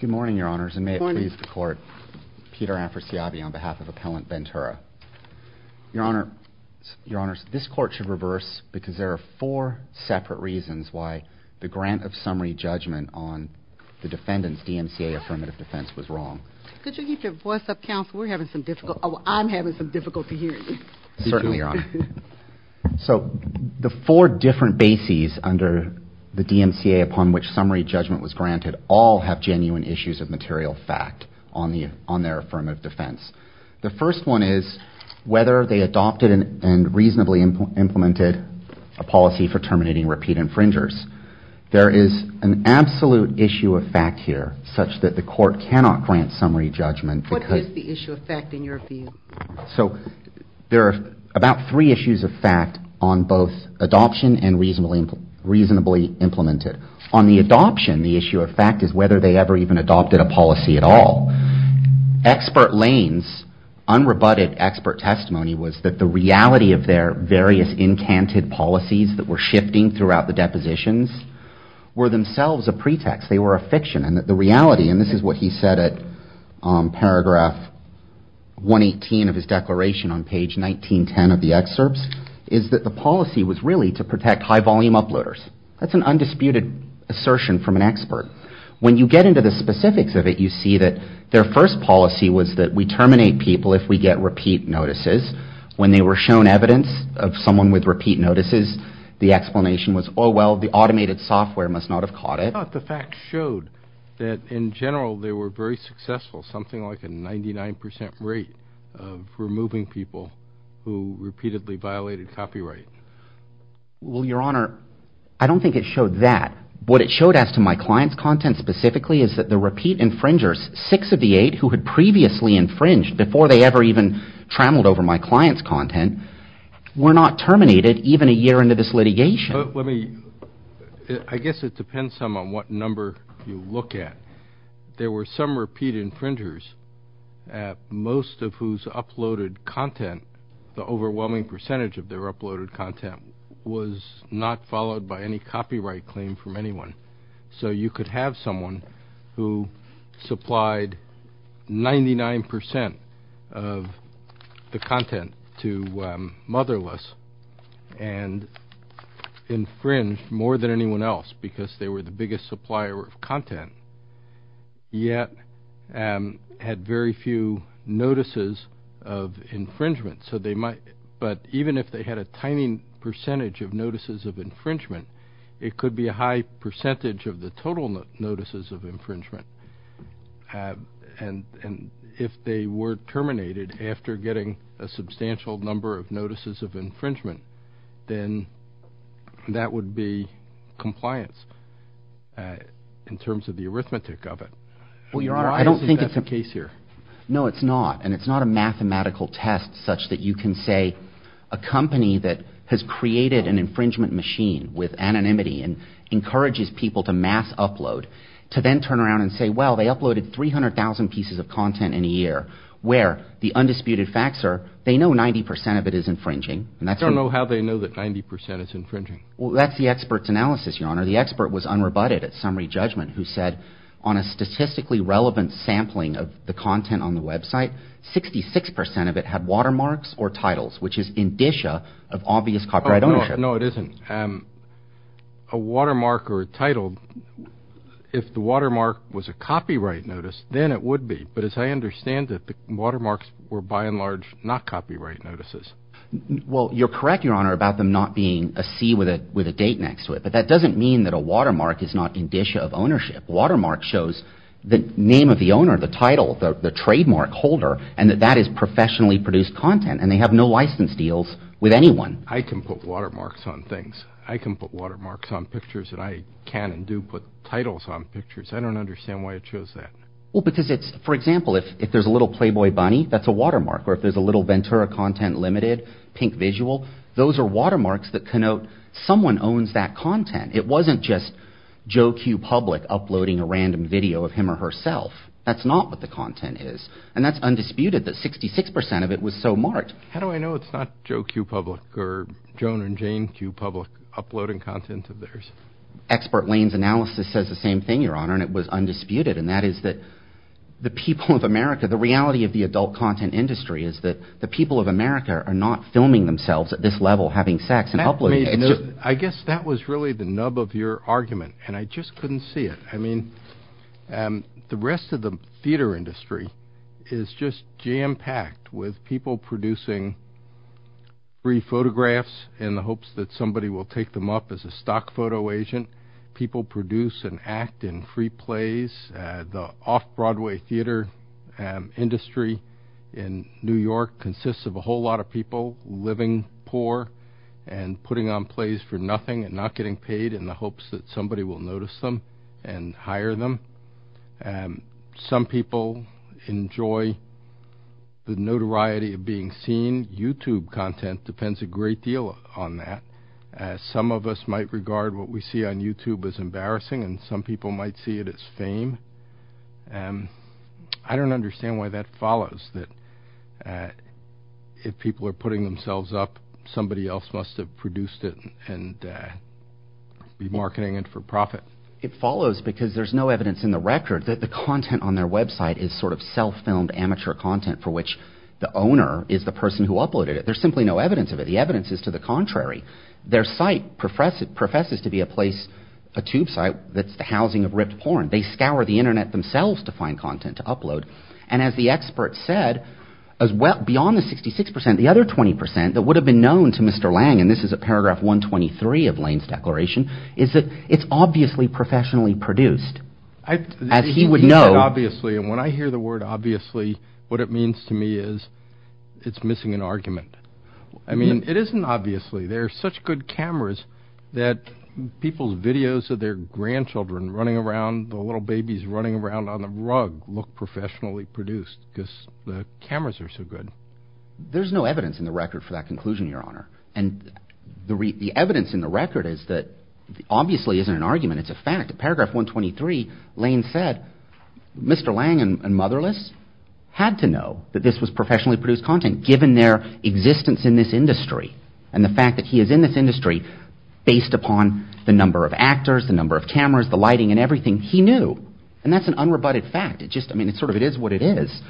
Good morning, Your Honors, and may it please the Court. Peter Amforsiabi on behalf of Appellant Bentura. Your Honor, Your Honors, this Court should reverse because there are four separate reasons why the grant of summary judgment on the defendant's DMCA affirmative defense was wrong. Could you keep your voice up, counsel? We're having some difficult, I'm having some difficult to hear you. Certainly, Your Honor. So the four different bases under the DMCA upon which summary judgment was granted all have genuine issues of material fact on their affirmative defense. The first one is whether they adopted and reasonably implemented a policy for terminating repeat infringers. There is an absolute issue of fact here such that the Court cannot grant summary judgment. What is the issue of fact in your view? So there are about three issues of fact on both adoption and reasonably implemented. On the adoption, the issue of fact is whether they ever even adopted a policy at all. Expert Lane's unrebutted expert testimony was that the reality of their various incanted policies that were shifting throughout the depositions were themselves a pretext. They were a fiction and the reality, and this is what he said at paragraph 118 of his declaration on page 1910 of the excerpts, is that the policy was really to protect high volume uploaders. That's an undisputed assertion from an expert. When you get into the specifics of it, you see that their first policy was that we terminate people if we get repeat notices. When they were shown evidence of someone with repeat notices, the explanation was, oh, well, the general, they were very successful, something like a 99% rate of removing people who repeatedly violated copyright. Well, Your Honor, I don't think it showed that. What it showed as to my client's content specifically is that the repeat infringers, six of the eight who had previously infringed before they ever even trammeled over my client's content, were not terminated even a year into this litigation. Let me, I guess it depends some on what number you look at. There were some repeat infringers, most of whose uploaded content, the overwhelming percentage of their uploaded content, was not followed by any copyright claim from anyone. So you could have someone who supplied 99% of the content to Motherless and infringed more than anyone else because they were the biggest supplier of content, yet had very few notices of infringement. So they might, but even if they had a tiny percentage of notices of infringement, it could be a high percentage of the total notices of infringement. And if they were terminated after getting a substantial number of notices of infringement, then that would be compliance in terms of the arithmetic of it. Well, Your Honor, I don't think it's a case here. No, it's not. And it's not a mathematical test such that you can say a company that has created an infringement machine with anonymity and encourages people to mass upload, to then turn around and say, well, they uploaded 300,000 pieces of content in a year where the undisputed facts are, they know 90% of it is infringing I don't know how they know that 90% is infringing. Well, that's the expert's analysis, Your Honor. The expert was unrebutted at summary judgment who said on a statistically relevant sampling of the content on the website, 66% of it had watermarks or titles, which is indicia of obvious copyright ownership. No, it isn't. A watermark or a title, if the watermark was a copyright notice, then it would be. But as I understand it, the watermarks were by and large not copyright notices. Well, you're correct, Your Honor, about them not being a C with a date next to it. But that doesn't mean that a watermark is not indicia of ownership. A watermark shows the name of the owner, the title, the trademark holder, and that that is professionally produced content and they have no license deals with anyone. I can put watermarks on things. I can put watermarks on pictures and I can and do put titles on pictures. I don't understand why it shows that. Well, because it's, for example, if there's a little Playboy bunny, that's a watermark. Or if there's a little Ventura Content Limited, Pink Visual, those are watermarks that connote someone owns that content. It wasn't just Joe Q. Public uploading a random video of him or herself. That's not what the content is. And that's undisputed that 66% of it was so marked. How do I know it's not Joe Q. Public or Joan and Jane Q. Public uploading content of theirs? Expert Lane's analysis says the same thing, Your Honor, and it was undisputed. And that is that the people of America, the reality of the adult content industry, is that the people of America are not filming themselves at this level having sex and uploading. I guess that was really the nub of your argument, and I just couldn't see it. I mean, the rest of the theater industry is just jam-packed with people producing free photographs in the hopes that somebody will take them up as a stock photo agent. People produce and off-Broadway theater industry in New York consists of a whole lot of people living poor and putting on plays for nothing and not getting paid in the hopes that somebody will notice them and hire them. Some people enjoy the notoriety of being seen. YouTube content depends a great deal on that. Some of us might regard what we see on YouTube as embarrassing, and I don't understand why that follows, that if people are putting themselves up, somebody else must have produced it and be marketing it for profit. It follows because there's no evidence in the record that the content on their website is sort of self-filmed amateur content for which the owner is the person who uploaded it. There's simply no evidence of it. The evidence is to the contrary. Their site professes to be a place, a tube site, that's the housing of ripped porn. They scour the Internet themselves to find content to upload, and as the expert said, beyond the 66%, the other 20% that would have been known to Mr. Lange, and this is at paragraph 123 of Lane's declaration, is that it's obviously professionally produced, as he would know. Obviously, and when I hear the word obviously, what it means to me is it's missing an argument. I mean, it isn't obviously. There are such good cameras that people's videos of their grandchildren running around, the little babies running around on the rug look professionally produced because the cameras are so good. There's no evidence in the record for that conclusion, Your Honor, and the evidence in the record is that obviously isn't an argument, it's a fact. At paragraph 123, Lane said Mr. Lange and Motherless had to know that this was professionally produced content, given their existence in this industry, and the fact that he is in this industry, based upon the number of actors, the number of cameras, the lighting, and everything, he knew, and that's an unrebutted fact. It just, I mean, it's sort of, it is what it is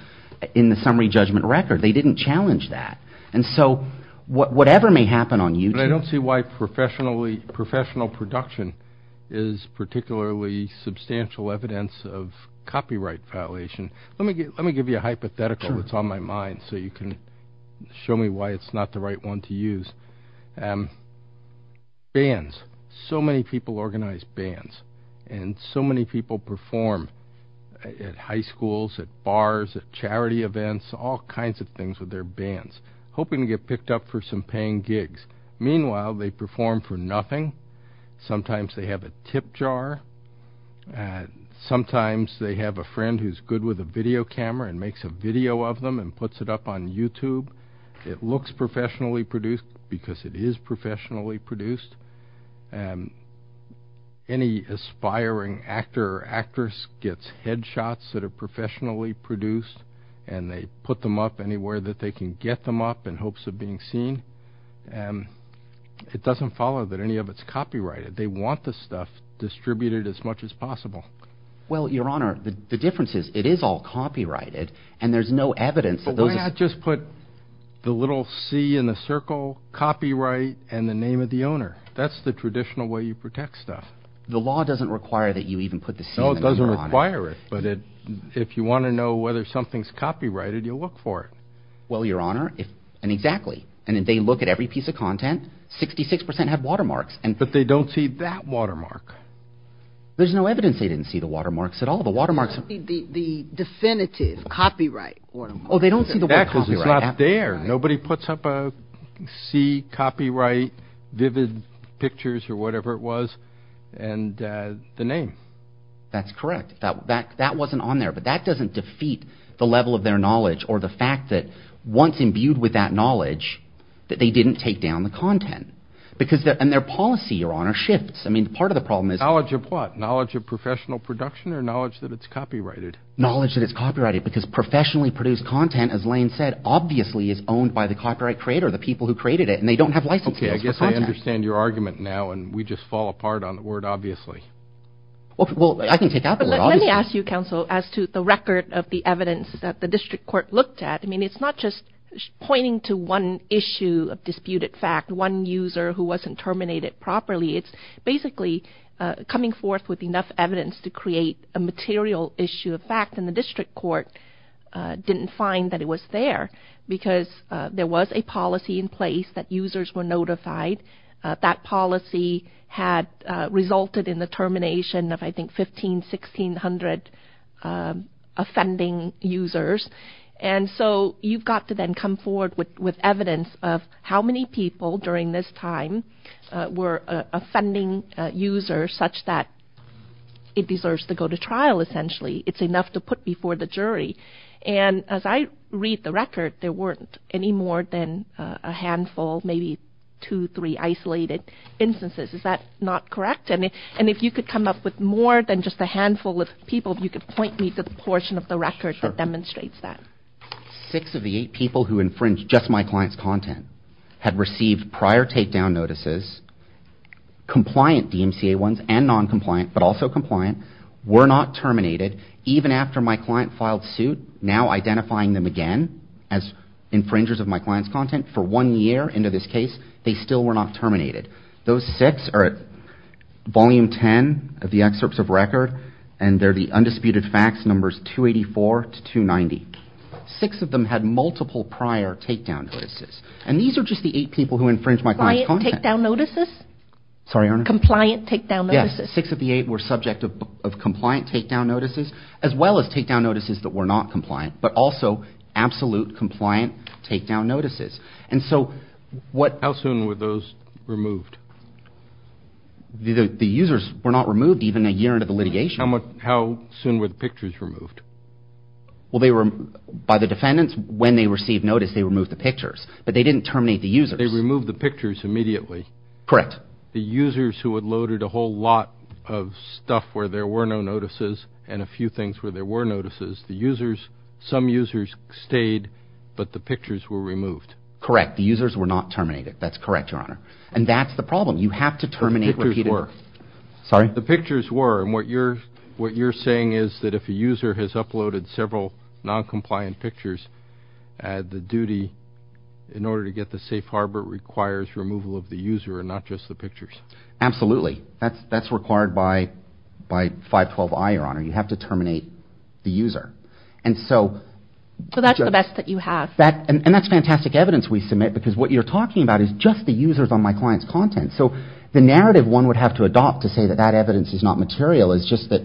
in the summary judgment record. They didn't challenge that, and so whatever may happen on YouTube. I don't see why professional production is particularly substantial evidence of copyright violation. Let me give you a hypothetical that's on my mind, so you can show me why it's not the right one to use. Bands. So many people organize bands, and so many people perform at high schools, at bars, at charity events, all kinds of things with their bands, hoping to get picked up for some paying gigs. Meanwhile, they perform for nothing. Sometimes they have a tip jar. Sometimes they have a friend who's good with a video camera and makes a video of them and puts it up on YouTube. It looks professionally produced, because it is professionally produced. Any aspiring actor or actress gets head shots that are professionally produced, and they put them up anywhere that they can get them up in hopes of being seen. It doesn't follow that any of it's copyrighted. They want the stuff distributed as much as possible. Well, Your Honor, the difference is, it is all copyrighted, and there's no evidence of those. Why not just put the little C in the circle, copyright, and the name of the owner? That's the traditional way you protect stuff. The law doesn't require that you even put the C in there, Your Honor. No, it doesn't require it, but if you want to know whether something's copyrighted, you'll look for it. Well, Your Honor, and exactly, and if they look at every piece of content, 66% have watermarks. But they don't see that watermark. There's no evidence they didn't see the watermarks at all. The definitive copyright watermark. Oh, they don't see the word copyright. Because it's not there. Nobody puts up a C, copyright, vivid pictures, or whatever it was, and the name. That's correct. That wasn't on there. But that doesn't defeat the level of their knowledge, or the fact that once imbued with that knowledge, that they didn't take down the content. And their policy, Your Honor, shifts. I mean, part of the problem is... Knowledge of what? Knowledge of professional production, or knowledge that it's copyrighted? Knowledge that it's copyrighted. Because professionally produced content, as Lane said, obviously is owned by the copyright creator, the people who created it, and they don't have license for it. Okay, I guess I understand your argument now, and we just fall apart on the word obviously. Well, I can take out the word obviously. Let me ask you, counsel, as to the record of the evidence that the district court looked at. I mean, it's not just pointing to one issue of disputed fact, one user who wasn't terminated properly. It's basically coming forth with enough evidence to create a material issue of fact, and the district court didn't find that it was there, because there was a policy in place that users were notified. That policy had resulted in the termination of, I think, 1,500, 1,600 offending users. And so you've got to then come forward with evidence of how many people during this time were offending users such that it deserves to go to trial, essentially. It's enough to put before the jury. And as I read the record, there weren't any more than a handful, maybe two, three isolated instances. Is that not correct? And if you could come up with more than just a handful of people, if you could point me to the portion of the record that demonstrates that. Sure. Six of the eight people who infringed just my client's content had received prior takedown notices, compliant DMCA ones and noncompliant, but also compliant, were not terminated. Even after my client filed suit, now identifying them again as infringers of my client's content, for one year into this case, they still were not terminated. Those six are at volume 10 of the excerpts of record, and they're the undisputed facts, numbers 284 to 290. Six of them had multiple prior takedown notices. And these are just the eight people who infringed my client's content. Compliant takedown notices? Sorry, Your Honor? Compliant takedown notices? Yes. Six of the eight were subject of compliant takedown notices, as well as takedown notices that were not compliant, but also absolute compliant takedown notices. And so what... How soon were those removed? The users were not removed even a year into the litigation. How soon were the pictures removed? Well, they were, by the defendants, when they received notice, they removed the pictures. But they didn't terminate the users. They removed the pictures immediately. Correct. The users who had loaded a whole lot of stuff where there were no notices, and a few things where there were notices, the users, some users stayed, but the pictures were removed. Correct. The users were not terminated. That's correct, Your Honor. And that's the problem. You have to terminate repeated... The pictures were. Sorry? The pictures were. And what you're saying is that if a user has uploaded several noncompliant pictures, the duty, in order to get the safe harbor, requires removal of the user and not just the pictures. Absolutely. That's required by 512-I, Your Honor. You have to terminate the user. And so... So that's the best that you have. And that's fantastic evidence we submit, because what you're talking about is just the users on my client's content. So the narrative one would have to adopt to say that that evidence is not material is just that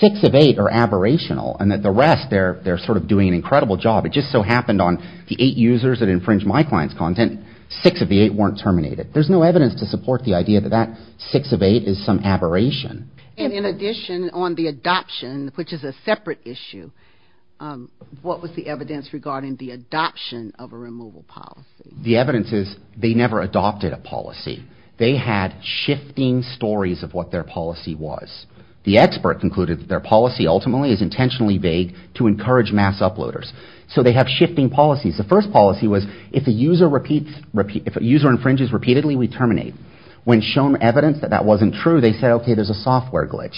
six of eight are aberrational, and that the rest, they're sort of doing an incredible job. It just so happened on the eight users that infringed my client's content, six of the eight weren't terminated. There's no evidence to support the idea that that six of eight is some aberration. And in addition, on the adoption, which is a separate issue, what was the evidence regarding the adoption of a removal policy? The evidence is they never adopted a policy. They had shifting stories of what their policy was. The expert concluded that their policy ultimately is intentionally vague to encourage mass uploaders. So they have shifting policies. The first policy was if a user infringes repeatedly, we terminate. When shown evidence that that wasn't true, they said, OK, there's a software glitch.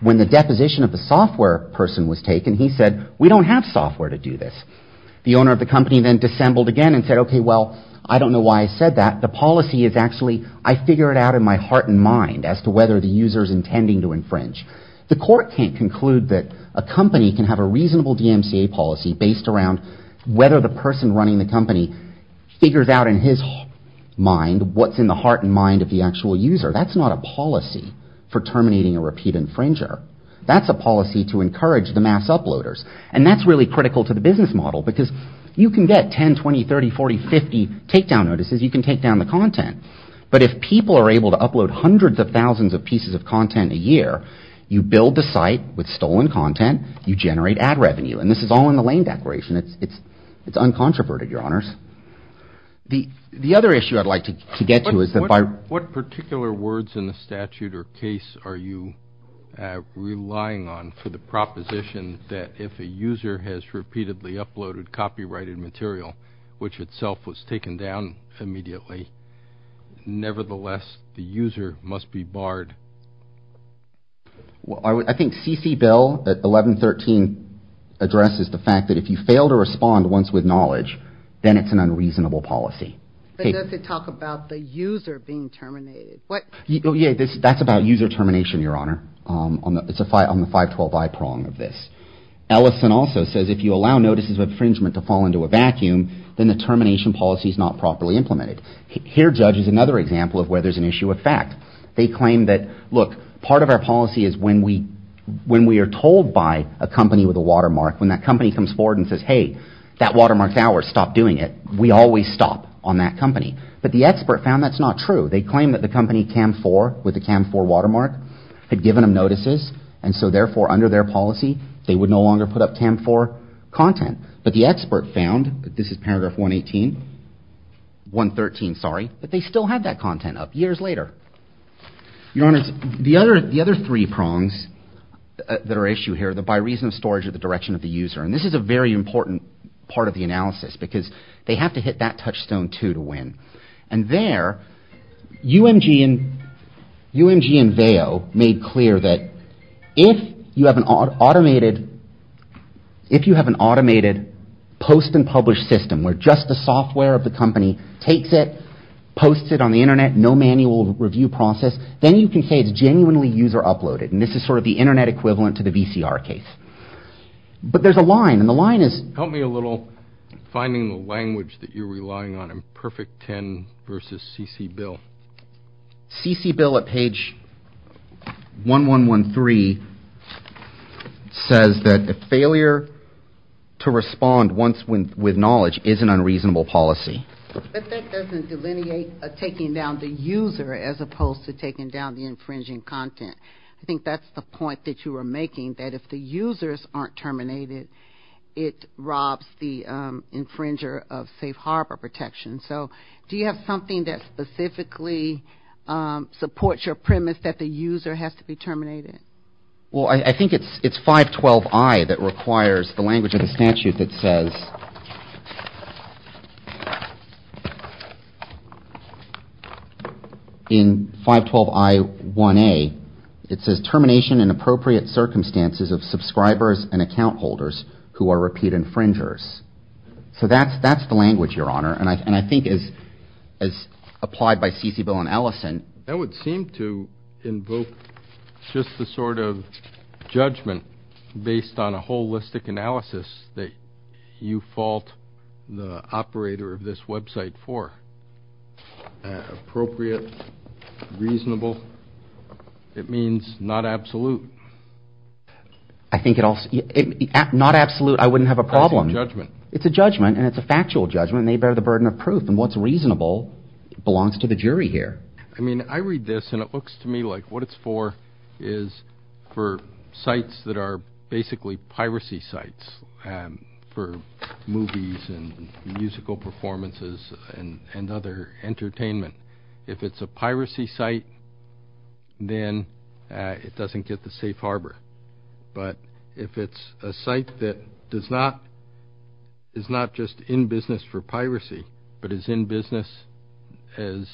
When the deposition of the software person was taken, he said, we don't have software to do this. The owner of the company then dissembled again and said, OK, well, I don't know why I said that. The policy is actually I figure it out in my heart and mind as to whether the user is intending to infringe. The court can't conclude that a company can have a reasonable DMCA policy based around whether the person running the company figures out in his mind what's in the heart and mind of the actual user. That's not a policy for terminating a repeat infringer. That's a policy to encourage the mass uploaders. And that's really critical to the business model, because you can get 10, 20, 30, 40, 50 takedown notices. You can take down the content. But if people are able to upload hundreds of thousands of pieces of content a year, you build the site with stolen content. You generate ad revenue. And this is all in the Lane Declaration. It's uncontroverted, your honors. The other issue I'd like to get to is that by what particular words in the statute or case are you relying on for the proposition that if a user has repeatedly uploaded copyrighted material, which itself was taken down immediately, nevertheless, the user must be barred. I think C.C. Bell at 1113 addresses the fact that if you fail to respond once with knowledge, then it's an unreasonable policy. But does it talk about the user being terminated? That's about user termination, your honor. It's on the 512i prong of this. Ellison also says if you allow notices of infringement to fall into a vacuum, then the termination policy is not properly implemented. Here, Judge, is another example of where there's an issue of fact. They claim that, look, part of our policy is when we are told by a company with a watermark, when that company comes forward and says, hey, that watermark's ours, stop doing it, we always stop on that company. But the expert found that's not true. They claim that the company CAM4 with the CAM4 watermark had given them notices and so therefore under their policy, they would no longer put up CAM4 content. But the expert found, this is paragraph 118, 113, sorry, that they still had that content up years later. Your honors, the other three prongs that are issued here, the by reason of storage or the direction of the user, and this is a very important part of the analysis because they have to hit that touchstone, too, to win. And there, UMG and VAO made clear that if you have an automated post and publish system where just the software of the company takes it, posts it on the internet, no manual review process, then you can say it's genuinely user uploaded. And this is sort of the internet equivalent to the VCR case. But there's a line and the line is... Help me a little, finding the language that you're relying on in Perfect 10 versus C.C. Bill. C.C. Bill at page 1113 says that the failure to respond once with knowledge is an unreasonable policy. But that doesn't delineate a taking down the user as opposed to taking down the infringing content. I think that's the point that you were making, that if the users aren't terminated, it robs the infringer of safe harbor protection. So do you have something that specifically supports your premise that the user has to be terminated? Well, I think it's 512I that requires the language of the statute that says... In 512I1A, it says termination in appropriate circumstances of subscribers and account holders who are repeat infringers. So that's the language, Your Honor. And I think as applied by C.C. Bill and Ellison... That would seem to invoke just the sort of judgment based on a holistic analysis that you fault the operator of this website for. Appropriate. Reasonable. It means not absolute. I think it also... Not absolute, I wouldn't have a problem. That's a judgment. It's a judgment, and it's a factual judgment, and they bear the burden of proof. And what's reasonable belongs to the jury here. I mean, I read this, and it looks to me like what it's for is for sites that are basically entertainment. If it's a piracy site, then it doesn't get the safe harbor. But if it's a site that is not just in business for piracy, but is in business as...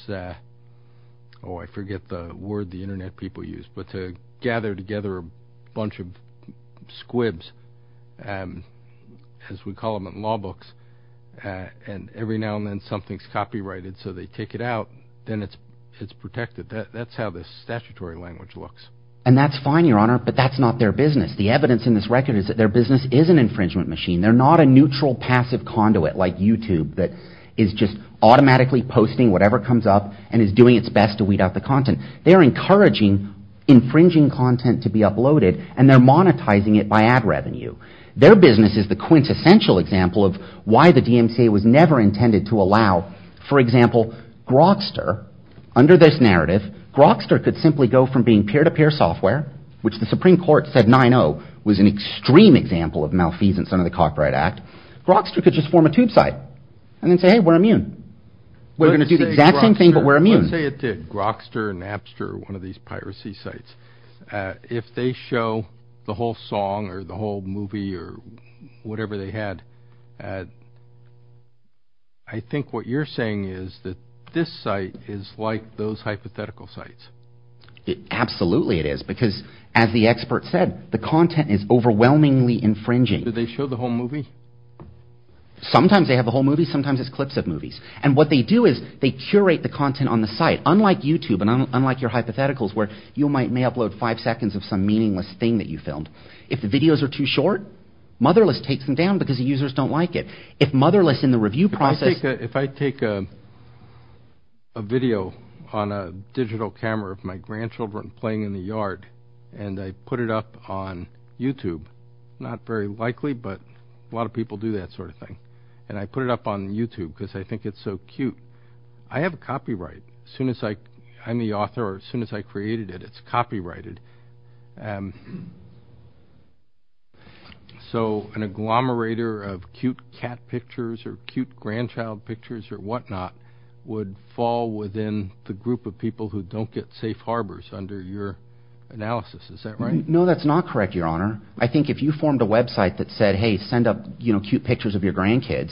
Oh, I forget the word the internet people use, but to gather together a bunch of squibs, as we call them in law books, and every now and then something's copyrighted, so they take it out, then it's protected. That's how the statutory language looks. And that's fine, Your Honor, but that's not their business. The evidence in this record is that their business is an infringement machine. They're not a neutral passive conduit like YouTube that is just automatically posting whatever comes up and is doing its best to weed out the content. They're encouraging infringing content to be uploaded, and they're DMCA was never intended to allow. For example, Grokster, under this narrative, Grokster could simply go from being peer-to-peer software, which the Supreme Court said 9-0 was an extreme example of malfeasance under the Copyright Act. Grokster could just form a tube site and then say, hey, we're immune. We're going to do the exact same thing, but we're immune. Let's say it did. Grokster and Apster, one of these piracy sites, if they show the whole I think what you're saying is that this site is like those hypothetical sites. Absolutely it is, because as the expert said, the content is overwhelmingly infringing. Do they show the whole movie? Sometimes they have the whole movie. Sometimes it's clips of movies. And what they do is they curate the content on the site, unlike YouTube and unlike your hypotheticals where you may upload five seconds of some meaningless thing that you filmed. If the videos are too If motherless in the review process If I take a video on a digital camera of my grandchildren playing in the yard and I put it up on YouTube, not very likely, but a lot of people do that sort of thing. And I put it up on YouTube because I think it's so cute. I have a copyright. As soon as I'm the author or as soon as I created it, it's copyrighted. So an agglomerator of cute cat pictures or cute grandchild pictures or whatnot would fall within the group of people who don't get safe harbors under your analysis. Is that right? No, that's not correct, Your Honor. I think if you formed a website that said, hey, send up cute pictures of your grandkids,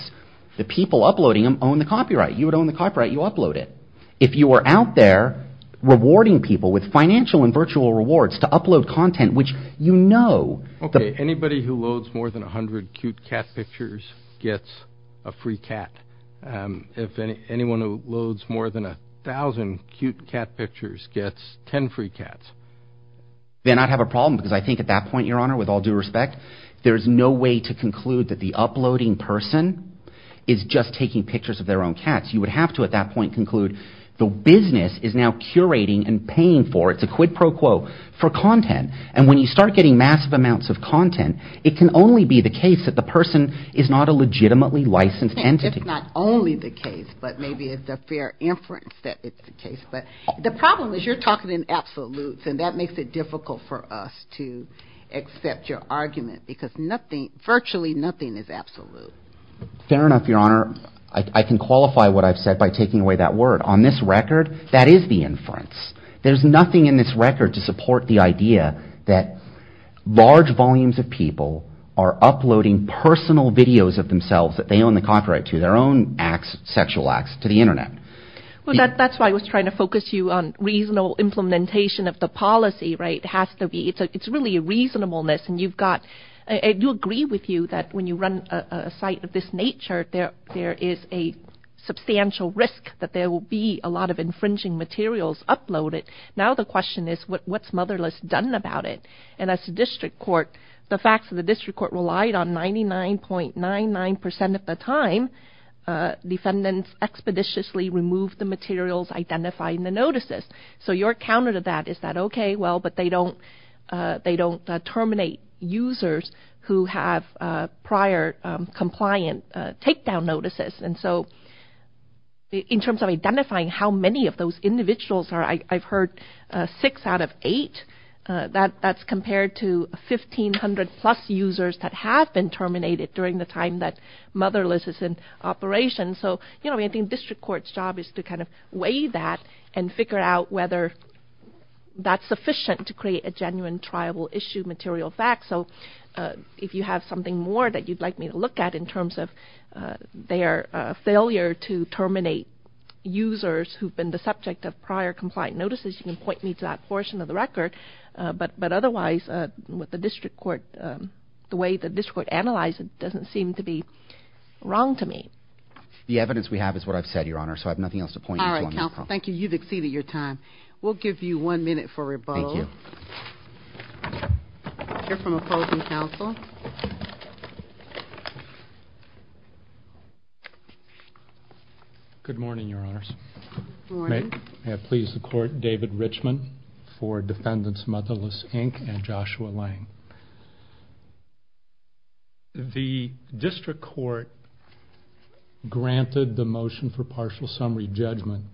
the people uploading them own the copyright. You would out there rewarding people with financial and virtual rewards to upload content, which you know. Okay. Anybody who loads more than a hundred cute cat pictures gets a free cat. If anyone who loads more than a thousand cute cat pictures gets ten free cats. Then I'd have a problem because I think at that point, Your Honor, with all due respect, there's no way to conclude that the uploading person is just taking pictures of their own The business is now curating and paying for it. It's a quid pro quo for content. And when you start getting massive amounts of content, it can only be the case that the person is not a legitimately licensed entity. It's not only the case, but maybe it's a fair inference that it's the case. But the problem is you're talking in absolutes and that makes it difficult for us to accept your argument because virtually nothing is absolute. Fair enough, Your Honor. I can qualify what I've said by taking away that word. On this record, that is the inference. There's nothing in this record to support the idea that large volumes of people are uploading personal videos of themselves that they own the copyright to their own acts, sexual acts to the internet. Well, that's why I was trying to focus you on reasonable implementation of the policy, right? It has to be. It's really a reasonableness and you've got, I do agree with you that when you run a site of this nature, there is a substantial risk that there will be a lot of infringing materials uploaded. Now the question is what's Motherless done about it? And as a district court, the facts of the district court relied on 99.99% of the time defendants expeditiously removed the materials identified in the notices. So your counter to that is that, okay, well, but they don't terminate users who have prior compliant takedown notices. And so in terms of identifying how many of those individuals are, I've heard six out of eight. That's compared to 1,500 plus users that have been terminated during the time that Motherless is in operation. So I think district court's job is to kind of see that and figure out whether that's sufficient to create a genuine triable issue material fact. So if you have something more that you'd like me to look at in terms of their failure to terminate users who've been the subject of prior compliant notices, you can point me to that portion of the record. But otherwise, with the district court, the way the district court analyzed it doesn't seem to be wrong to me. The evidence we have is what I've said, Your Honor, so I have nothing else to point you to. All right, counsel. Thank you. You've exceeded your time. We'll give you one minute for rebuttal. Thank you. You're from opposing counsel. Good morning, Your Honors. Good morning. May I please the court, David Richman for defendants Motherless, Inc. and Joshua Lang. The district court granted the motion for partial summary judgment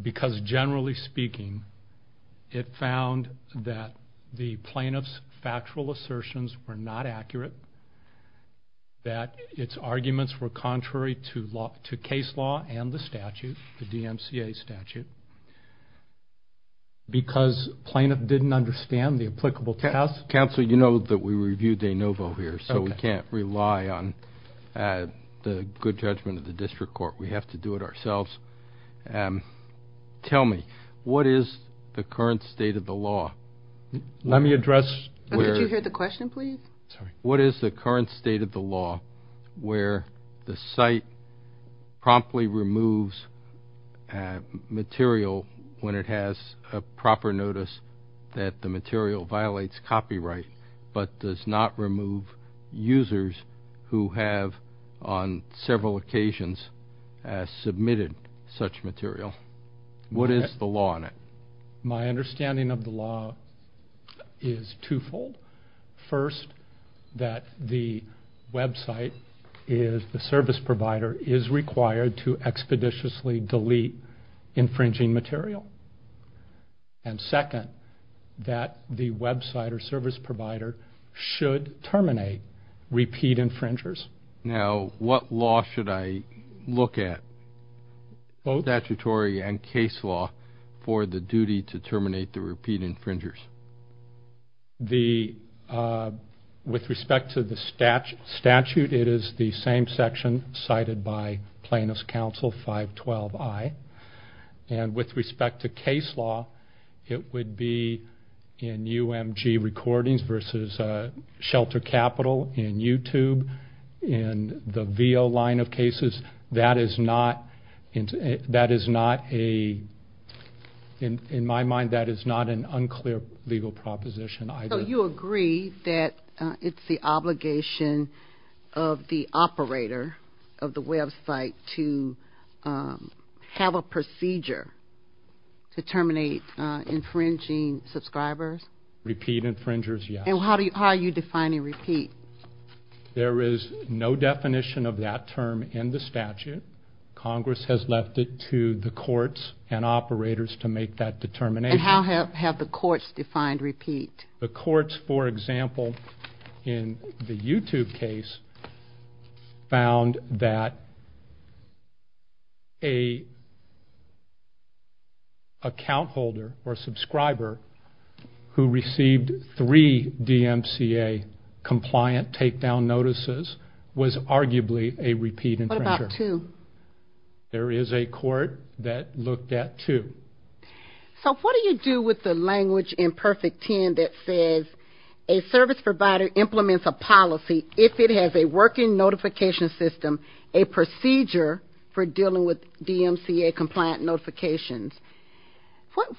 because, generally speaking, it found that the plaintiff's factual assertions were not accurate, that its arguments were contrary to case law and the statute, the DMCA statute, because plaintiff didn't understand the applicable test. Counsel, you know that we review de novo here, so we can't rely on the good judgment of the district court. We have to do it ourselves. Tell me, what is the current state of the law? Let me address... Could you hear the question, please? Sorry. What is the current state of the law where the site promptly removes material when it has a proper notice that the material violates copyright but does not remove users who have, on several occasions, submitted such material? What is the law on it? My understanding of the law is twofold. First, that the website is, the service provider, is required to expeditiously delete infringing material. And second, that the website or service provider should terminate repeat infringers. Now, what law should I look at? Both. Statutory and case law for the duty to terminate the repeat infringers. With respect to the statute, it is the same section cited by Plaintiff's Counsel 512I. And with respect to case law, it would be in UMG Recordings versus Shelter Capital in YouTube. In the VEO line of cases, that is not a, in my mind, that is not an unclear legal proposition either. So you agree that it's the obligation of the operator of the website to have a procedure to terminate infringing subscribers? Repeat infringers, yes. And how are you defining repeat? There is no definition of that term in the statute. Congress has left it to the courts and operators to make that determination. And how have the courts defined repeat? The courts, for example, in the YouTube case, found that an account holder or subscriber who received three DMCA compliant takedown notices was arguably a repeat infringer. What about two? There is a court that looked at two. So what do you do with the language in Perfect 10 that says, a service provider implements a policy if it has a working notification system, a procedure for dealing with DMCA compliant notifications?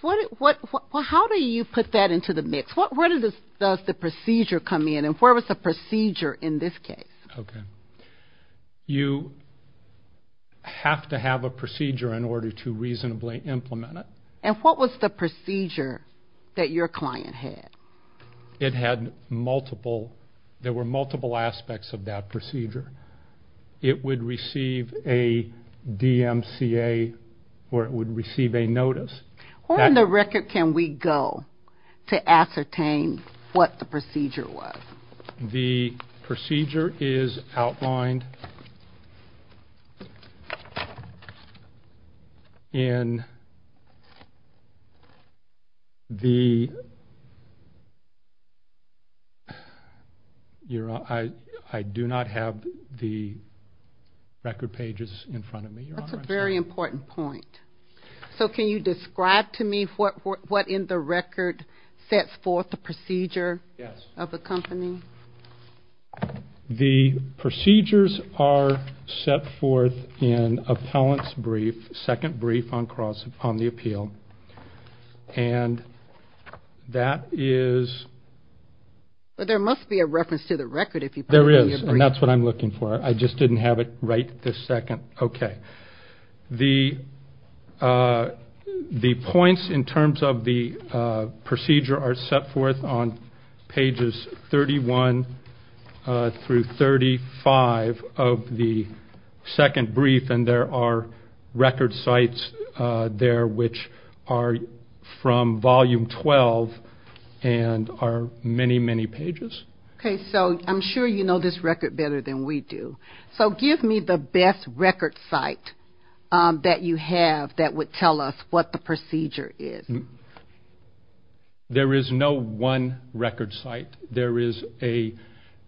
How do you put that into the mix? Where does the procedure come in? And where was the procedure in this case? You have to have a procedure in order to reasonably implement it. And what was the procedure that your client had? There were multiple aspects of that procedure. It would receive a DMCA or it would receive a notice. Where on the record can we go to ascertain what the procedure was? The procedure is outlined in the ‑‑I do not have the record pages in front of me. That's a very important point. So can you describe to me what in the record sets forth the procedure of the company? The procedures are set forth in appellant's brief, second brief on the appeal. And that is ‑‑ But there must be a reference to the record if you put it in your brief. There is, and that's what I'm looking for. I just didn't have it right this second. Okay. The points in terms of the procedure are set forth on pages 31 through 35 of the second brief. And there are record sites there which are from volume 12 and are many, many pages. Okay. So I'm sure you know this record better than we do. So give me the best record site that you have that would tell us what the procedure is. There is no one record site. There is a ‑‑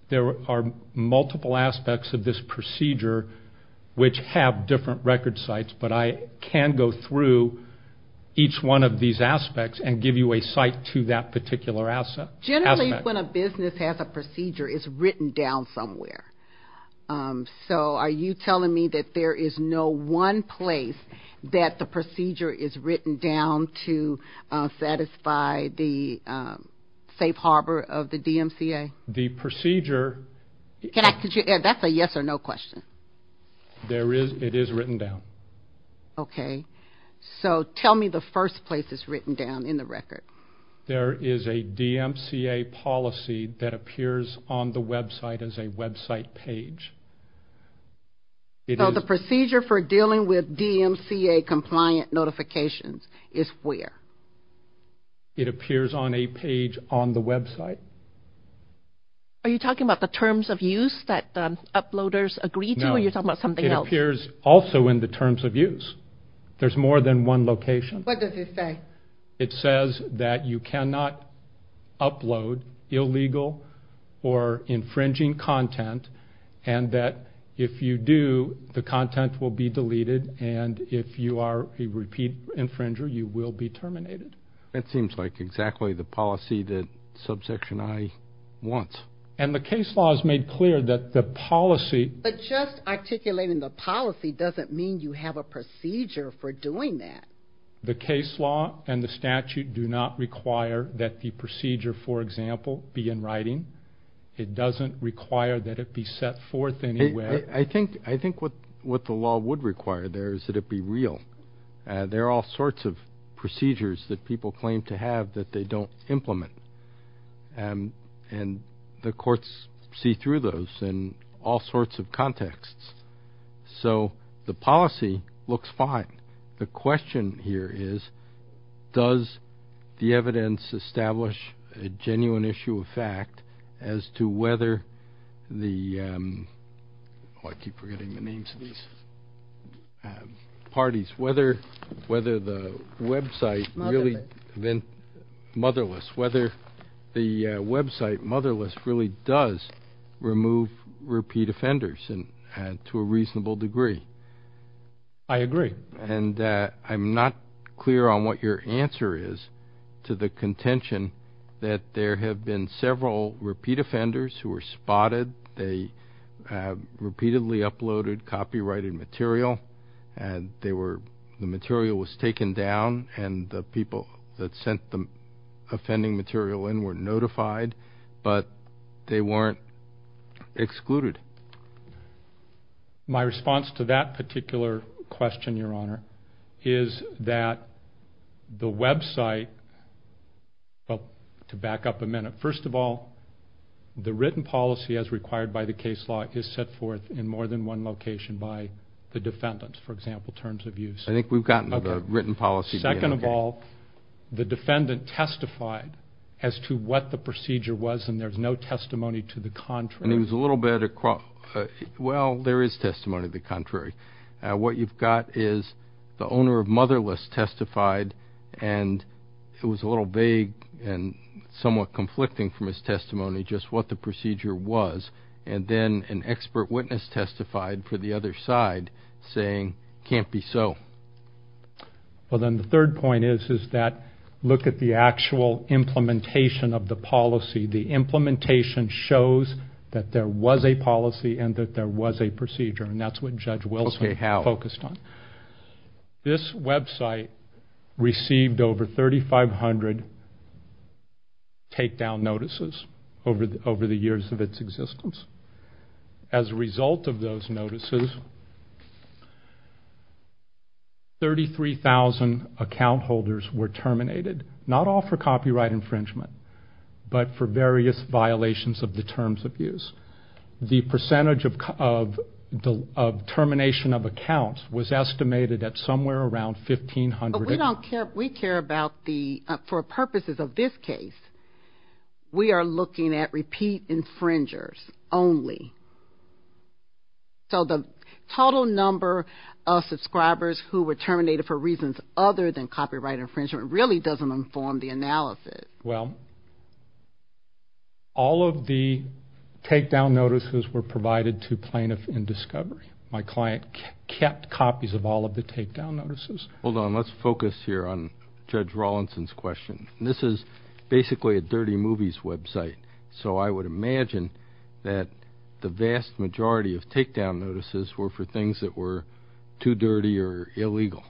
there are multiple aspects of this procedure which have different record sites, but I can go through each one of these aspects and give you a site to that particular aspect. Generally, when a business has a procedure, it's written down somewhere. So are you telling me that there is no one place that the procedure is written down to satisfy the safe harbor of the DMCA? The procedure ‑‑ That's a yes or no question. It is written down. Okay. So tell me the first place it's written down in the record. There is a DMCA policy that appears on the website as a website page. So the procedure for dealing with DMCA compliant notifications is where? It appears on a page on the website. Are you talking about the terms of use that the uploaders agree to or are you talking about something else? No. It appears also in the terms of use. There's more than one location. What does it say? It says that you cannot upload illegal or infringing content and that if you do, the content will be deleted, and if you are a repeat infringer, you will be terminated. That seems like exactly the policy that Subsection I wants. And the case law has made clear that the policy ‑‑ But just articulating the policy doesn't mean you have a procedure for doing that. The case law and the statute do not require that the procedure, for example, be in writing. It doesn't require that it be set forth anywhere. I think what the law would require there is that it be real. There are all sorts of procedures that people claim to have that they don't implement, and the courts see through those in all sorts of contexts. So the policy looks fine. The question here is does the evidence establish a genuine issue of fact as to whether the ‑‑ I keep forgetting the names of these parties. Whether the website really ‑‑ Motherless. Motherless. Whether the website Motherless really does remove repeat offenders to a reasonable degree. I agree. And I'm not clear on what your answer is to the contention that there have been several repeat offenders who were spotted. They repeatedly uploaded copyrighted material, and the material was taken down, and the people that sent the offending material in were notified, but they weren't excluded. My response to that particular question, Your Honor, is that the website, well, to back up a minute, first of all, the written policy as required by the case law is set forth in more than one location by the defendant, for example, terms of use. I think we've gotten to the written policy. Second of all, the defendant testified as to what the procedure was, and there's no testimony to the contrary. And he was a little bit ‑‑ well, there is testimony to the contrary. What you've got is the owner of Motherless testified, and it was a little vague and somewhat conflicting from his testimony just what the procedure was, and then an expert witness testified for the other side saying, can't be so. Well, then the third point is that look at the actual implementation of the policy. The implementation shows that there was a policy and that there was a procedure, and that's what Judge Wilson focused on. This website received over 3,500 takedown notices over the years of its existence. As a result of those notices, 33,000 account holders were terminated, not all for copyright infringement, but for various violations of the terms of use. The percentage of termination of accounts was estimated at somewhere around 1,500. But we care about the ‑‑ for purposes of this case, we are looking at repeat infringers only. So the total number of subscribers who were terminated for reasons other than copyright infringement really doesn't inform the analysis. Well, all of the takedown notices were provided to plaintiffs in discovery. My client kept copies of all of the takedown notices. Hold on. Let's focus here on Judge Rawlinson's question. This is basically a dirty movies website, so I would imagine that the vast majority of takedown notices were for things that were too dirty or illegal,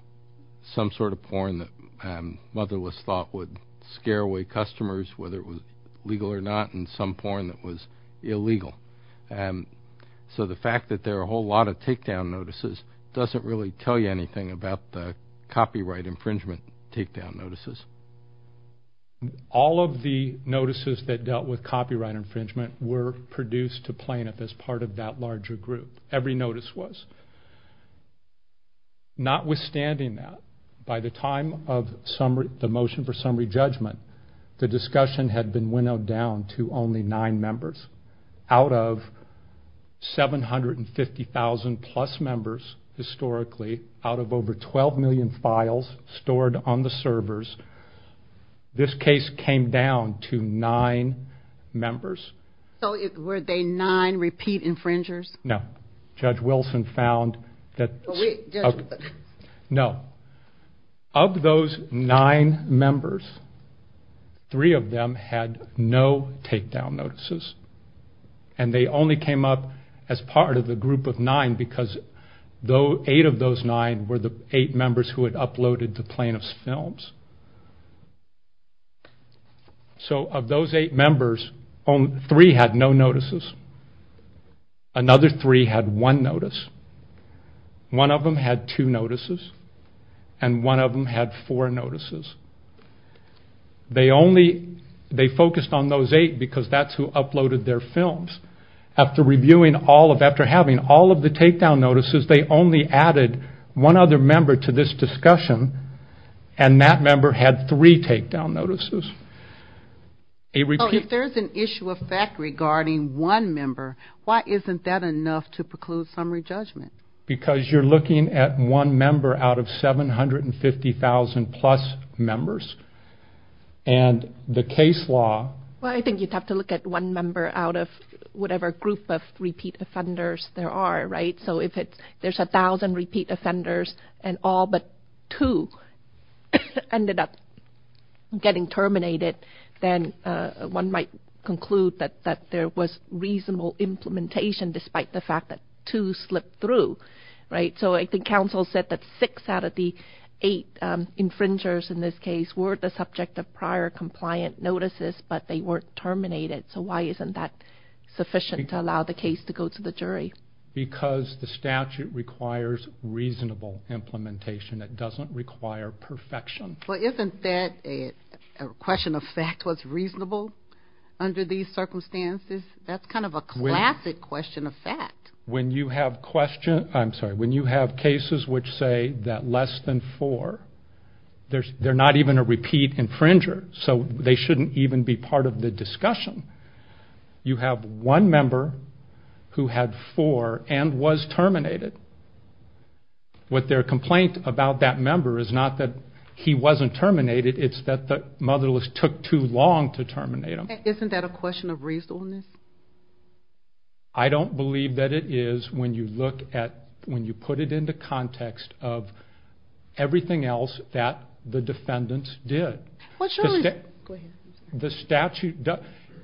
some sort of porn that motherless thought would scare away customers, whether it was legal or not, and some porn that was illegal. So the fact that there are a whole lot of takedown notices doesn't really tell you anything about the copyright infringement takedown notices. All of the notices that dealt with copyright infringement were produced to plaintiff as part of that larger group. That's what every notice was. Notwithstanding that, by the time of the motion for summary judgment, the discussion had been winnowed down to only nine members. Out of 750,000-plus members, historically, out of over 12 million files stored on the servers, this case came down to nine members. So were they nine repeat infringers? No. Judge Wilson found that... No. Of those nine members, three of them had no takedown notices, and they only came up as part of the group of nine because eight of those nine were the eight members who had uploaded the plaintiff's films. So of those eight members, three had no notices. Another three had one notice. One of them had two notices, and one of them had four notices. They focused on those eight because that's who uploaded their films. After having all of the takedown notices, they only added one other member to this discussion, and that member had three takedown notices. If there's an issue of fact regarding one member, why isn't that enough to preclude summary judgment? Because you're looking at one member out of 750,000-plus members, and the case law... Well, I think you'd have to look at one member out of whatever group of repeat offenders there are, right? So if there's 1,000 repeat offenders and all but two ended up getting terminated, then one might conclude that there was reasonable implementation despite the fact that two slipped through, right? So I think counsel said that six out of the eight infringers in this case were the subject of prior compliant notices, but they weren't terminated. So why isn't that sufficient to allow the case to go to the jury? Because the statute requires reasonable implementation. It doesn't require perfection. Well, isn't that a question of fact what's reasonable under these circumstances? That's kind of a classic question of fact. When you have cases which say that less than four, they're not even a repeat infringer, so they shouldn't even be part of the discussion. You have one member who had four and was terminated. Their complaint about that member is not that he wasn't terminated, it's that the motherless took too long to terminate him. Isn't that a question of reasonableness? I don't believe that it is when you put it into context of everything else that the defendants did.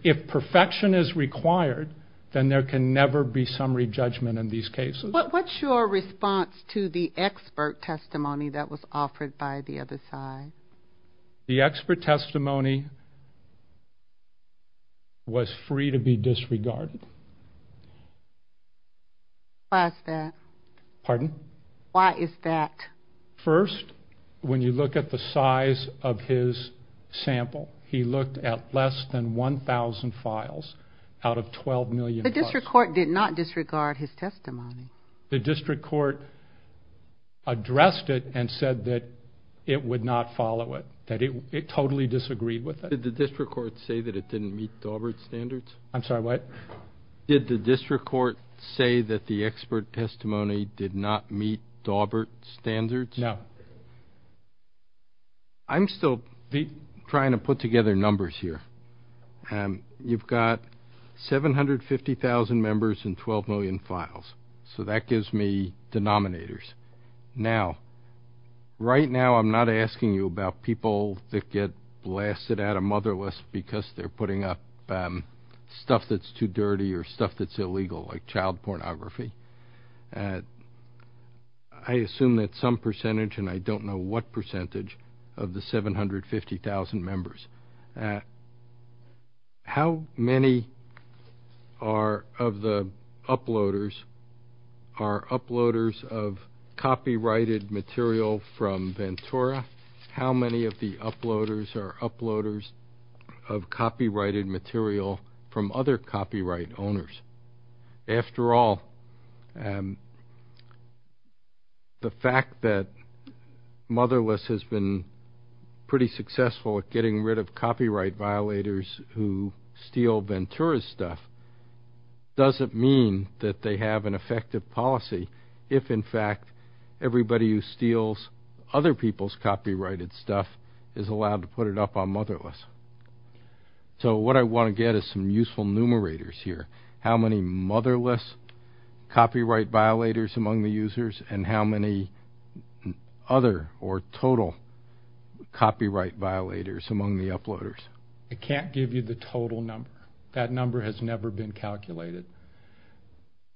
If perfection is required, then there can never be summary judgment in these cases. What's your response to the expert testimony that was offered by the other side? The expert testimony was free to be disregarded. Why is that? Pardon? Why is that? First, when you look at the size of his sample, he looked at less than 1,000 files out of 12 million files. The district court did not disregard his testimony. The district court addressed it and said that it would not follow it, that it totally disagreed with it. Did the district court say that it didn't meet Daubert's standards? I'm sorry, what? Did the district court say that the expert testimony did not meet Daubert's standards? No. I'm still trying to put together numbers here. You've got 750,000 members and 12 million files, so that gives me denominators. Now, right now I'm not asking you about people that get blasted out of motherless because they're putting up stuff that's too dirty or stuff that's illegal, like child pornography. I assume that some percentage, and I don't know what percentage, of the 750,000 members. How many of the uploaders are uploaders of copyrighted material from Ventura? How many of the uploaders are uploaders of copyrighted material from other copyright owners? After all, the fact that motherless has been pretty successful at getting rid of copyright violators who steal Ventura's stuff doesn't mean that they have an effective policy if, in fact, everybody who steals other people's copyrighted stuff is allowed to put it up on motherless. So what I want to get is some useful numerators here. How many motherless copyright violators among the users and how many other or total copyright violators among the uploaders? I can't give you the total number. That number has never been calculated.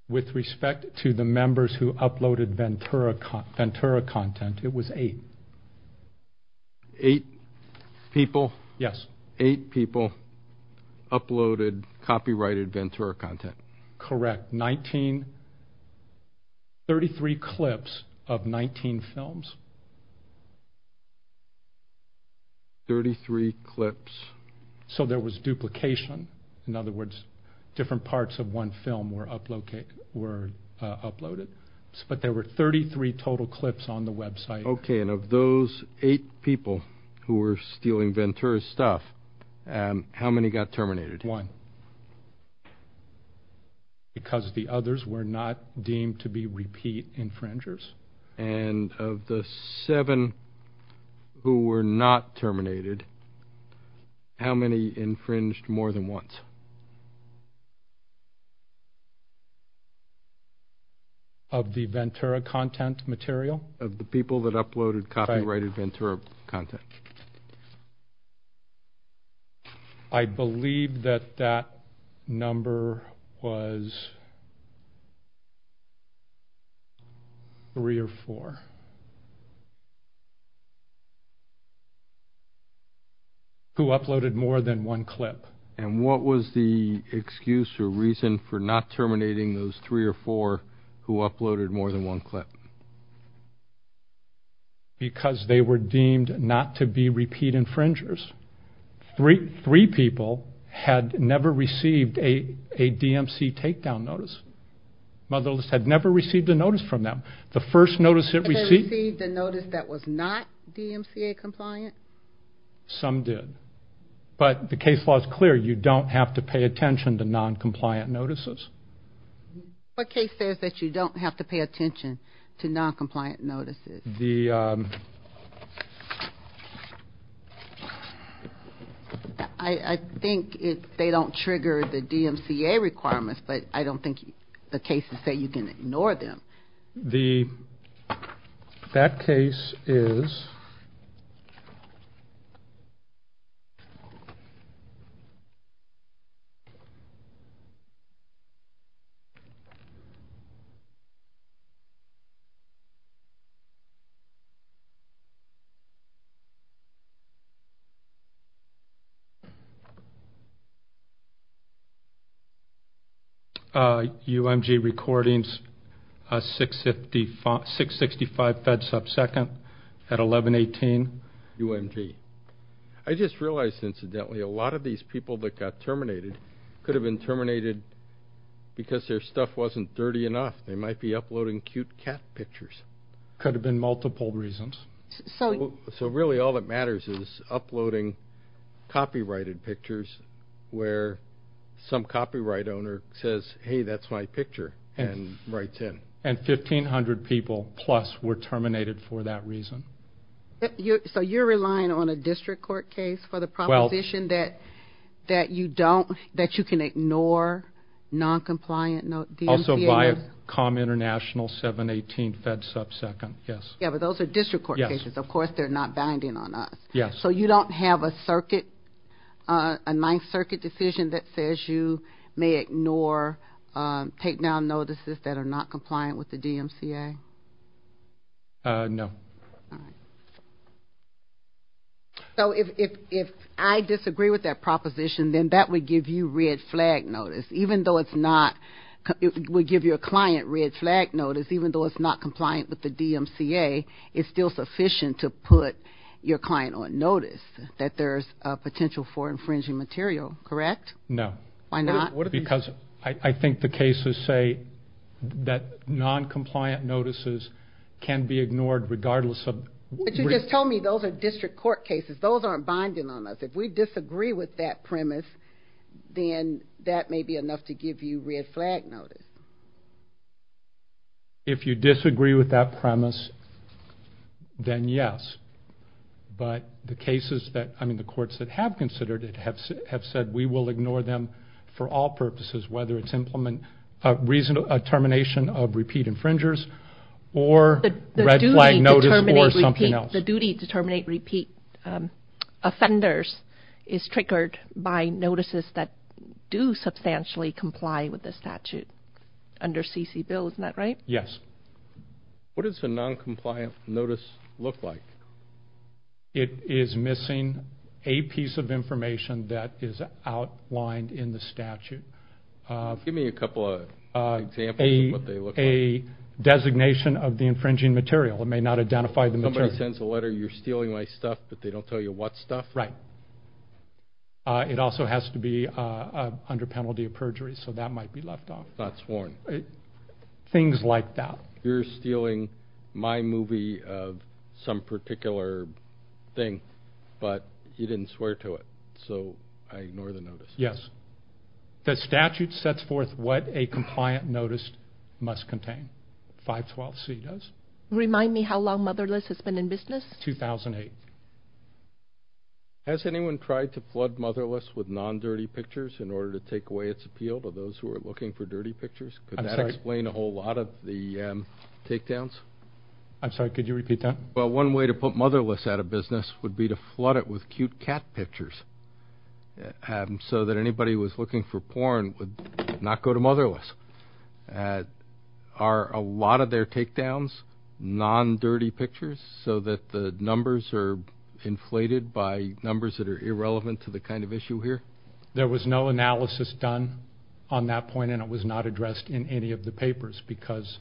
With respect to the members who uploaded Ventura content, it was eight. Eight people? Yes. Eight people uploaded copyrighted Ventura content. Correct. Thirty-three clips of 19 films. Thirty-three clips. So there was duplication. In other words, different parts of one film were uploaded. But there were 33 total clips on the website. Okay, and of those eight people who were stealing Ventura's stuff, how many got terminated? One. Because the others were not deemed to be repeat infringers? And of the seven who were not terminated, how many infringed more than once? Of the Ventura content material? Of the people that uploaded copyrighted Ventura content. I believe that that number was three or four who uploaded more than one clip. And what was the excuse or reason for not terminating those three or four who uploaded more than one clip? Because they were deemed not to be repeat infringers. Three people had never received a DMCA takedown notice. Motherless had never received a notice from them. The first notice it received was not DMCA compliant? Some did. But the case law is clear. You don't have to pay attention to noncompliant notices. What case says that you don't have to pay attention? I think they don't trigger the DMCA requirements, but I don't think the cases say you can ignore them. That case is... UMG recordings, 665 fed sub-second at 1118 UMG. I just realized, incidentally, a lot of these people that got terminated could have been terminated because their stuff wasn't dirty enough. They might be uploading cute cat pictures. Could have been multiple reasons. So really all that matters is uploading copyrighted pictures where some copyright owner says, hey, that's my picture and writes in. And 1,500 people plus were terminated for that reason. So you're relying on a district court case for the proposition that you don't, that you can ignore noncompliant DMCA? Also Viacom International, 718 fed sub-second, yes. Yeah, but those are district court cases. Of course they're not binding on us. So you don't have a circuit, a Ninth Circuit decision that says you may ignore takedown notices that are not compliant with the DMCA? No. So if I disagree with that proposition, then that would give you red flag notice. Even though it's not, it would give your client red flag notice, even though it's not compliant with the DMCA, it's still sufficient to put your client on notice that there's potential for infringing material, correct? No. Why not? Because I think the cases say that noncompliant notices can be ignored regardless of... But you just told me those are district court cases. Those aren't binding on us. If we disagree with that premise, then that may be enough to give you red flag notice. If you disagree with that premise, then yes. But the cases that, I mean the courts that have considered it have said we will ignore them for all purposes, whether it's a termination of repeat infringers or red flag notice or something else. The duty to terminate repeat offenders is triggered by notices that do substantially comply with the statute under CC Bill, isn't that right? Yes. What does a noncompliant notice look like? It is missing a piece of information that is outlined in the statute. Give me a couple of examples of what they look like. A designation of the infringing material. It may not identify the material. Somebody sends a letter, you're stealing my stuff, but they don't tell you what stuff? Right. It also has to be under penalty of perjury, so that might be left off. Not sworn. Things like that. You're stealing my movie of some particular thing, but you didn't swear to it, so I ignore the notice. Yes. The statute sets forth what a compliant notice must contain. 512C does. Remind me how long Motherless has been in business? 2008. Has anyone tried to flood Motherless with non-dirty pictures in order to take away its appeal to those who are looking for dirty pictures? Could that explain a whole lot of the takedowns? I'm sorry, could you repeat that? Well, one way to put Motherless out of business would be to flood it with cute cat pictures so that anybody who was looking for porn would not go to Motherless. Are a lot of their takedowns non-dirty pictures, so that the numbers are inflated by numbers that are irrelevant to the kind of issue here? There was no analysis done on that point, and it was not addressed in any of the papers, because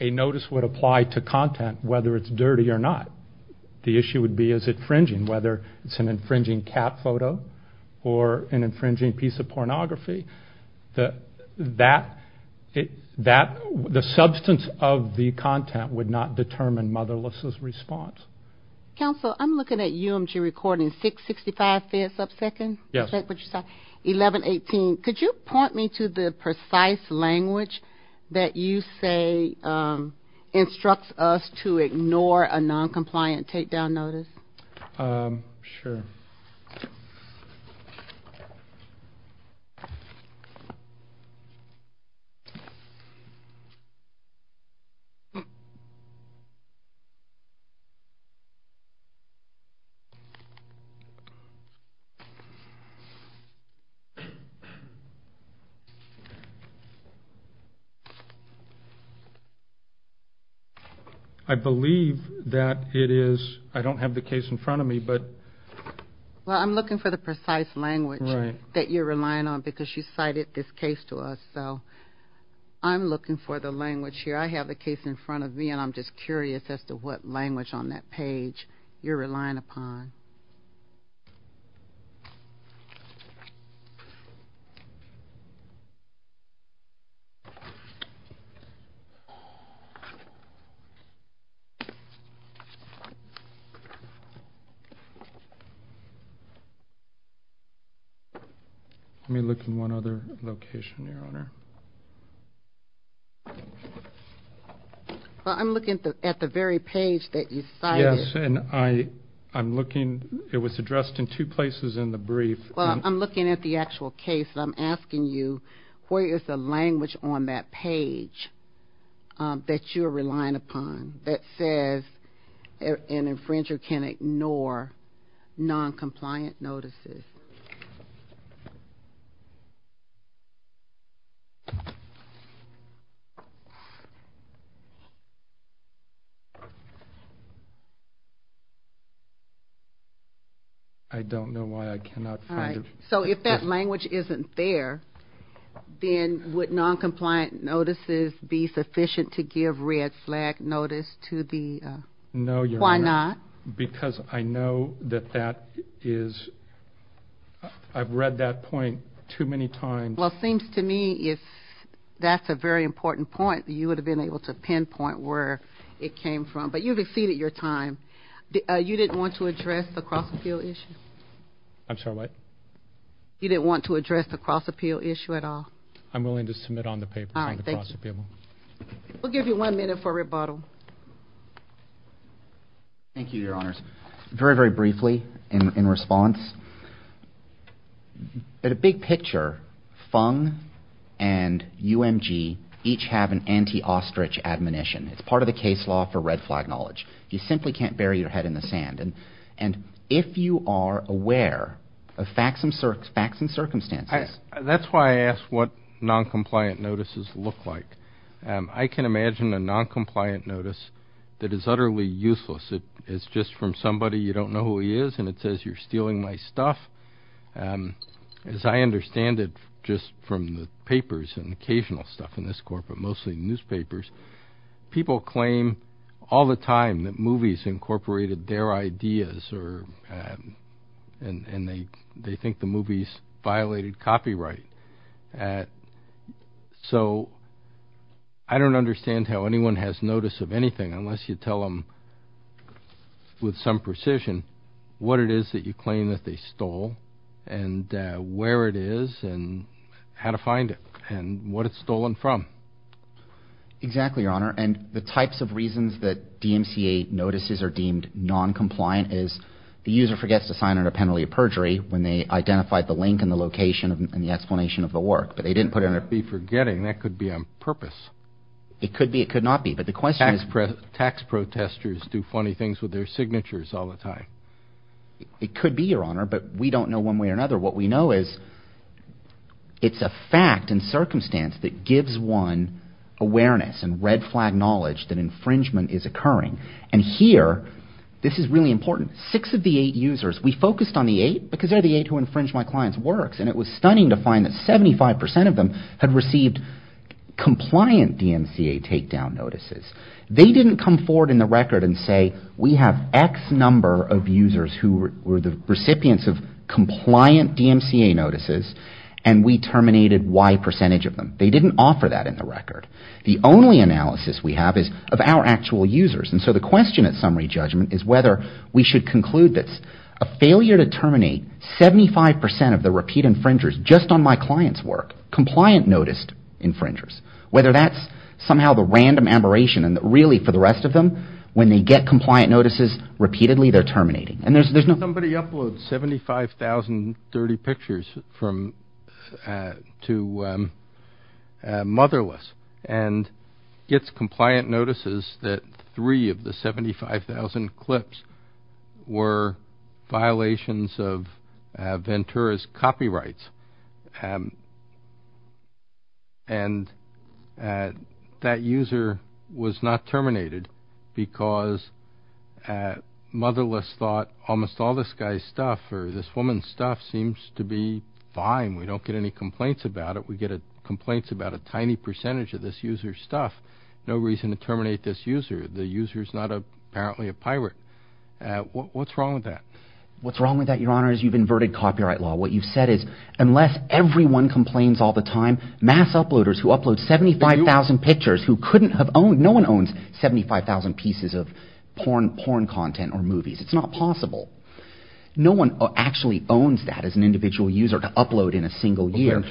a notice would apply to content, whether it's dirty or not. The issue would be, is it infringing? Whether it's an infringing cat photo or an infringing piece of pornography, the substance of the content would not determine Motherless' response. Counsel, I'm looking at UMG recording, 665-5-1118. Could you point me to the precise language that you say instructs us to ignore a non-compliant takedown notice? Sure. I believe that it is, I don't have the case in front of me, but... Well, I'm looking for the precise language that you're relying on, because you cited this case to us, so I'm looking for the language here. I have the case in front of me, and I'm just curious as to what language on that page you're relying upon. Let me look in one other location, Your Honor. Well, I'm looking at the very page that you cited. Yes, and I'm looking at the page that you cited. I mean, it was addressed in two places in the brief. Well, I'm looking at the actual case, and I'm asking you, where is the language on that page that you're relying upon that says an infringer can ignore non-compliant notices? I don't know why I cannot find it. So if that language isn't there, then would non-compliant notices be sufficient to give red flag notice to the... No, Your Honor. Why not? Because I know that that is, I've read that point too many times. Well, it seems to me if that's a very important point, you would have been able to pinpoint where it came from, but you've exceeded your time. You didn't want to address the cross-appeal issue? I'm sorry, what? You didn't want to address the cross-appeal issue at all? I'm willing to submit on the papers on the cross-appeal. All right, thank you. We'll give you one minute for rebuttal. Thank you, Your Honors. Very, very briefly in response, at a big picture, FUNG and UMG each have an anti-ostrich admonition. It's part of the case law for red flag knowledge. You simply can't bury your head in the sand. And if you are aware of facts and circumstances... That's why I asked what non-compliant notices look like. I can imagine a non-compliant notice that is utterly useless. It's just from somebody you don't know who he is, and it says you're stealing my stuff. As I understand it just from the papers and occasional stuff in this court, but mostly newspapers, people claim all the time that movies incorporated their ideas, and they think the movies violated copyright. So I don't understand how anyone has notice of anything unless you tell them with some precision what it is that you claim that they stole and where it is and how to find it and what it's stolen from. Exactly, Your Honor. And the types of reasons that DMCA notices are deemed non-compliant is the user forgets to sign on a penalty of perjury when they identified the link and the location and the explanation of the work, but they didn't put in a... It could be forgetting. That could be on purpose. It could be. It could not be, but the question is... Tax protesters do funny things with their signatures all the time. It could be, Your Honor, but we don't know one way or another. What we know is it's a fact and circumstance that gives one awareness and red flag knowledge that infringement is occurring, and here this is really important. Six of the eight users, we focused on the eight because they're the eight who infringe my client's works, and it was stunning to find that 75% of them had received compliant DMCA takedown notices. They didn't come forward in the record and say, We have X number of users who were the recipients of compliant DMCA notices, and we terminated Y percentage of them. They didn't offer that in the record. The only analysis we have is of our actual users, and so the question at summary judgment is whether we should conclude that a failure to terminate 75% of the repeat infringers just on my client's work, compliant noticed infringers, whether that's somehow the random aberration, and really for the rest of them, when they get compliant notices repeatedly, they're terminating. Somebody uploads 75,030 pictures to Motherless and gets compliant notices that three of the 75,000 clips were violations of Ventura's copyrights, and that user was not terminated because Motherless thought almost all this guy's stuff or this woman's stuff seems to be fine. We don't get any complaints about it. We get complaints about a tiny percentage of this user's stuff. No reason to terminate this user. The user's not apparently a pirate. What's wrong with that? What's wrong with that, Your Honor, is you've inverted copyright law. What you've said is unless everyone complains all the time, mass uploaders who upload 75,000 pictures who couldn't have owned, no one owns 75,000 pieces of porn content or movies. It's not possible. No one actually owns that as an individual user to upload in a single year.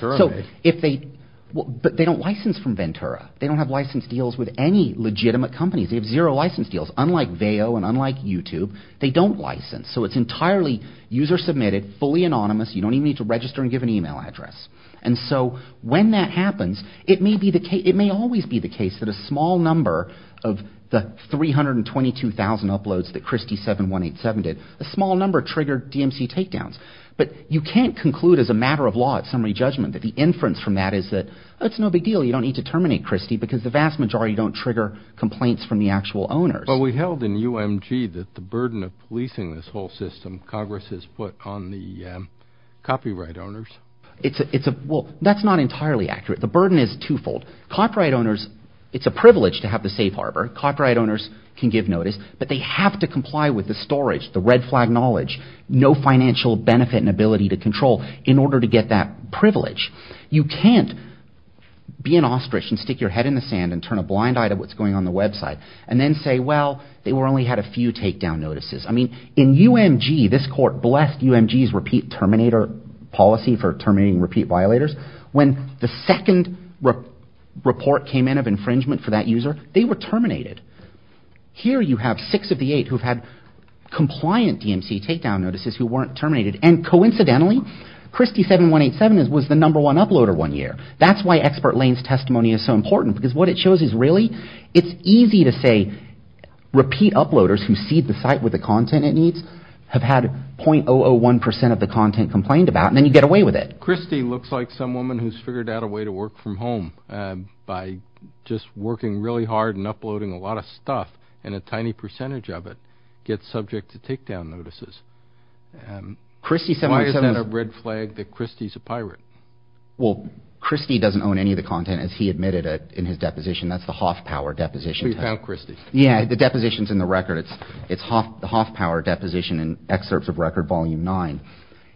But they don't license from Ventura. They don't have license deals with any legitimate companies. They have zero license deals. Unlike Veo and unlike YouTube, they don't license, so it's entirely user-submitted, fully anonymous. You don't even need to register and give an email address. And so when that happens, it may be the case, it may always be the case that a small number of the 322,000 uploads that Christy7187 did, a small number triggered DMC takedowns. But you can't conclude as a matter of law at summary judgment that the inference from that is that it's no big deal. You don't need to terminate Christy because the vast majority don't trigger complaints from the actual owners. Well, we held in UMG that the burden of policing this whole system, Congress has put on the copyright owners. Well, that's not entirely accurate. The burden is twofold. Copyright owners, it's a privilege to have the safe harbor. Copyright owners can give notice, but they have to comply with the storage, the red flag knowledge, no financial benefit and ability to control in order to get that privilege. You can't be an ostrich and stick your head in the sand and turn a blind eye to what's going on the website and then say, well, they only had a few takedown notices. I mean, in UMG, this court blessed UMG's repeat terminator policy for terminating repeat violators. When the second report came in of infringement for that user, they were terminated. Here you have six of the eight who've had compliant DMC takedown notices who weren't terminated. And coincidentally, Christy7187 was the number one uploader one year. That's why Expert Lane's testimony is so important because what it shows is really it's easy to say repeat uploaders who seed the site with the content it needs have had .001% of the content complained about, and then you get away with it. Christy looks like some woman who's figured out a way to work from home by just working really hard and uploading a lot of stuff and a tiny percentage of it gets subject to takedown notices. Why is that a red flag that Christy's a pirate? Well, Christy doesn't own any of the content as he admitted it in his deposition. That's the Hoffpower deposition. So you found Christy. Yeah, the deposition's in the record. It's the Hoffpower deposition in Excerpts of Record Volume 9.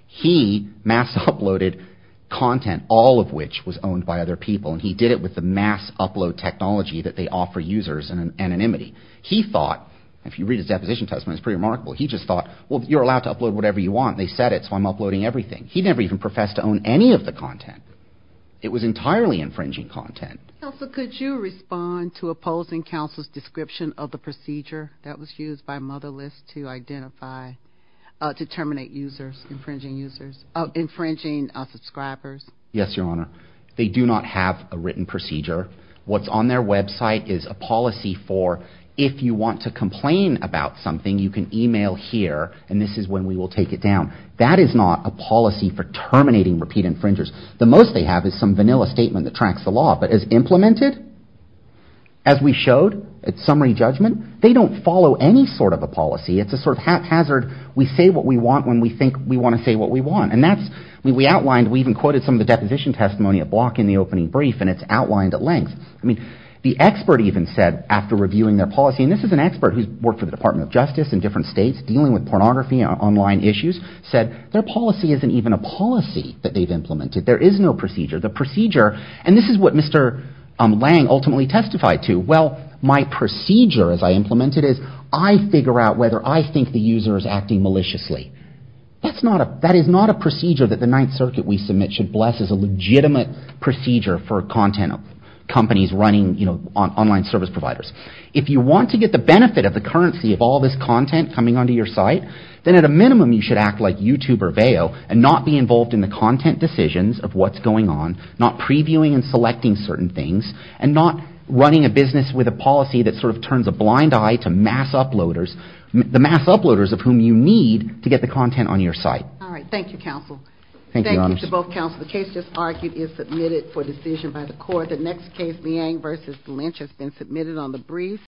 He mass-uploaded content, all of which was owned by other people, and he did it with the mass-upload technology that they offer users in anonymity. He thought, if you read his deposition testimony, it's pretty remarkable, he just thought, well, you're allowed to upload whatever you want. They said it, so I'm uploading everything. He never even professed to own any of the content. It was entirely infringing content. Counsel, could you respond to opposing counsel's description of the procedure that was used by Motherless to identify, to terminate users, infringing subscribers? Yes, Your Honor. They do not have a written procedure. What's on their website is a policy for, if you want to complain about something, you can email here, and this is when we will take it down. That is not a policy for terminating repeat infringers. The most they have is some vanilla statement that tracks the law, but as implemented, as we showed at summary judgment, they don't follow any sort of a policy. It's a sort of haphazard, we say what we want when we think we want to say what we want. And that's, we outlined, we even quoted some of the deposition testimony at Block in the opening brief, and it's outlined at length. The expert even said, after reviewing their policy, and this is an expert who's worked for the Department of Justice in different states, dealing with pornography and online issues, said their policy isn't even a policy that they've implemented. There is no procedure. The procedure, and this is what Mr. Lange ultimately testified to, well, my procedure as I implement it is, I figure out whether I think the user is acting maliciously. That is not a procedure that the Ninth Circuit we submit should bless as a legitimate procedure for content companies running online service providers. If you want to get the benefit of the currency of all this content coming onto your site, then at a minimum you should act like YouTuber Veo and not be involved in the content decisions of what's going on, not previewing and selecting certain things, and not running a business with a policy that sort of turns a blind eye to mass uploaders, the mass uploaders of whom you need to get the content on your site. All right. Thank you, counsel. Thank you, Your Honor. The case just argued is submitted for decision by the court. The next case, Liang v. Lynch, has been submitted on the brief.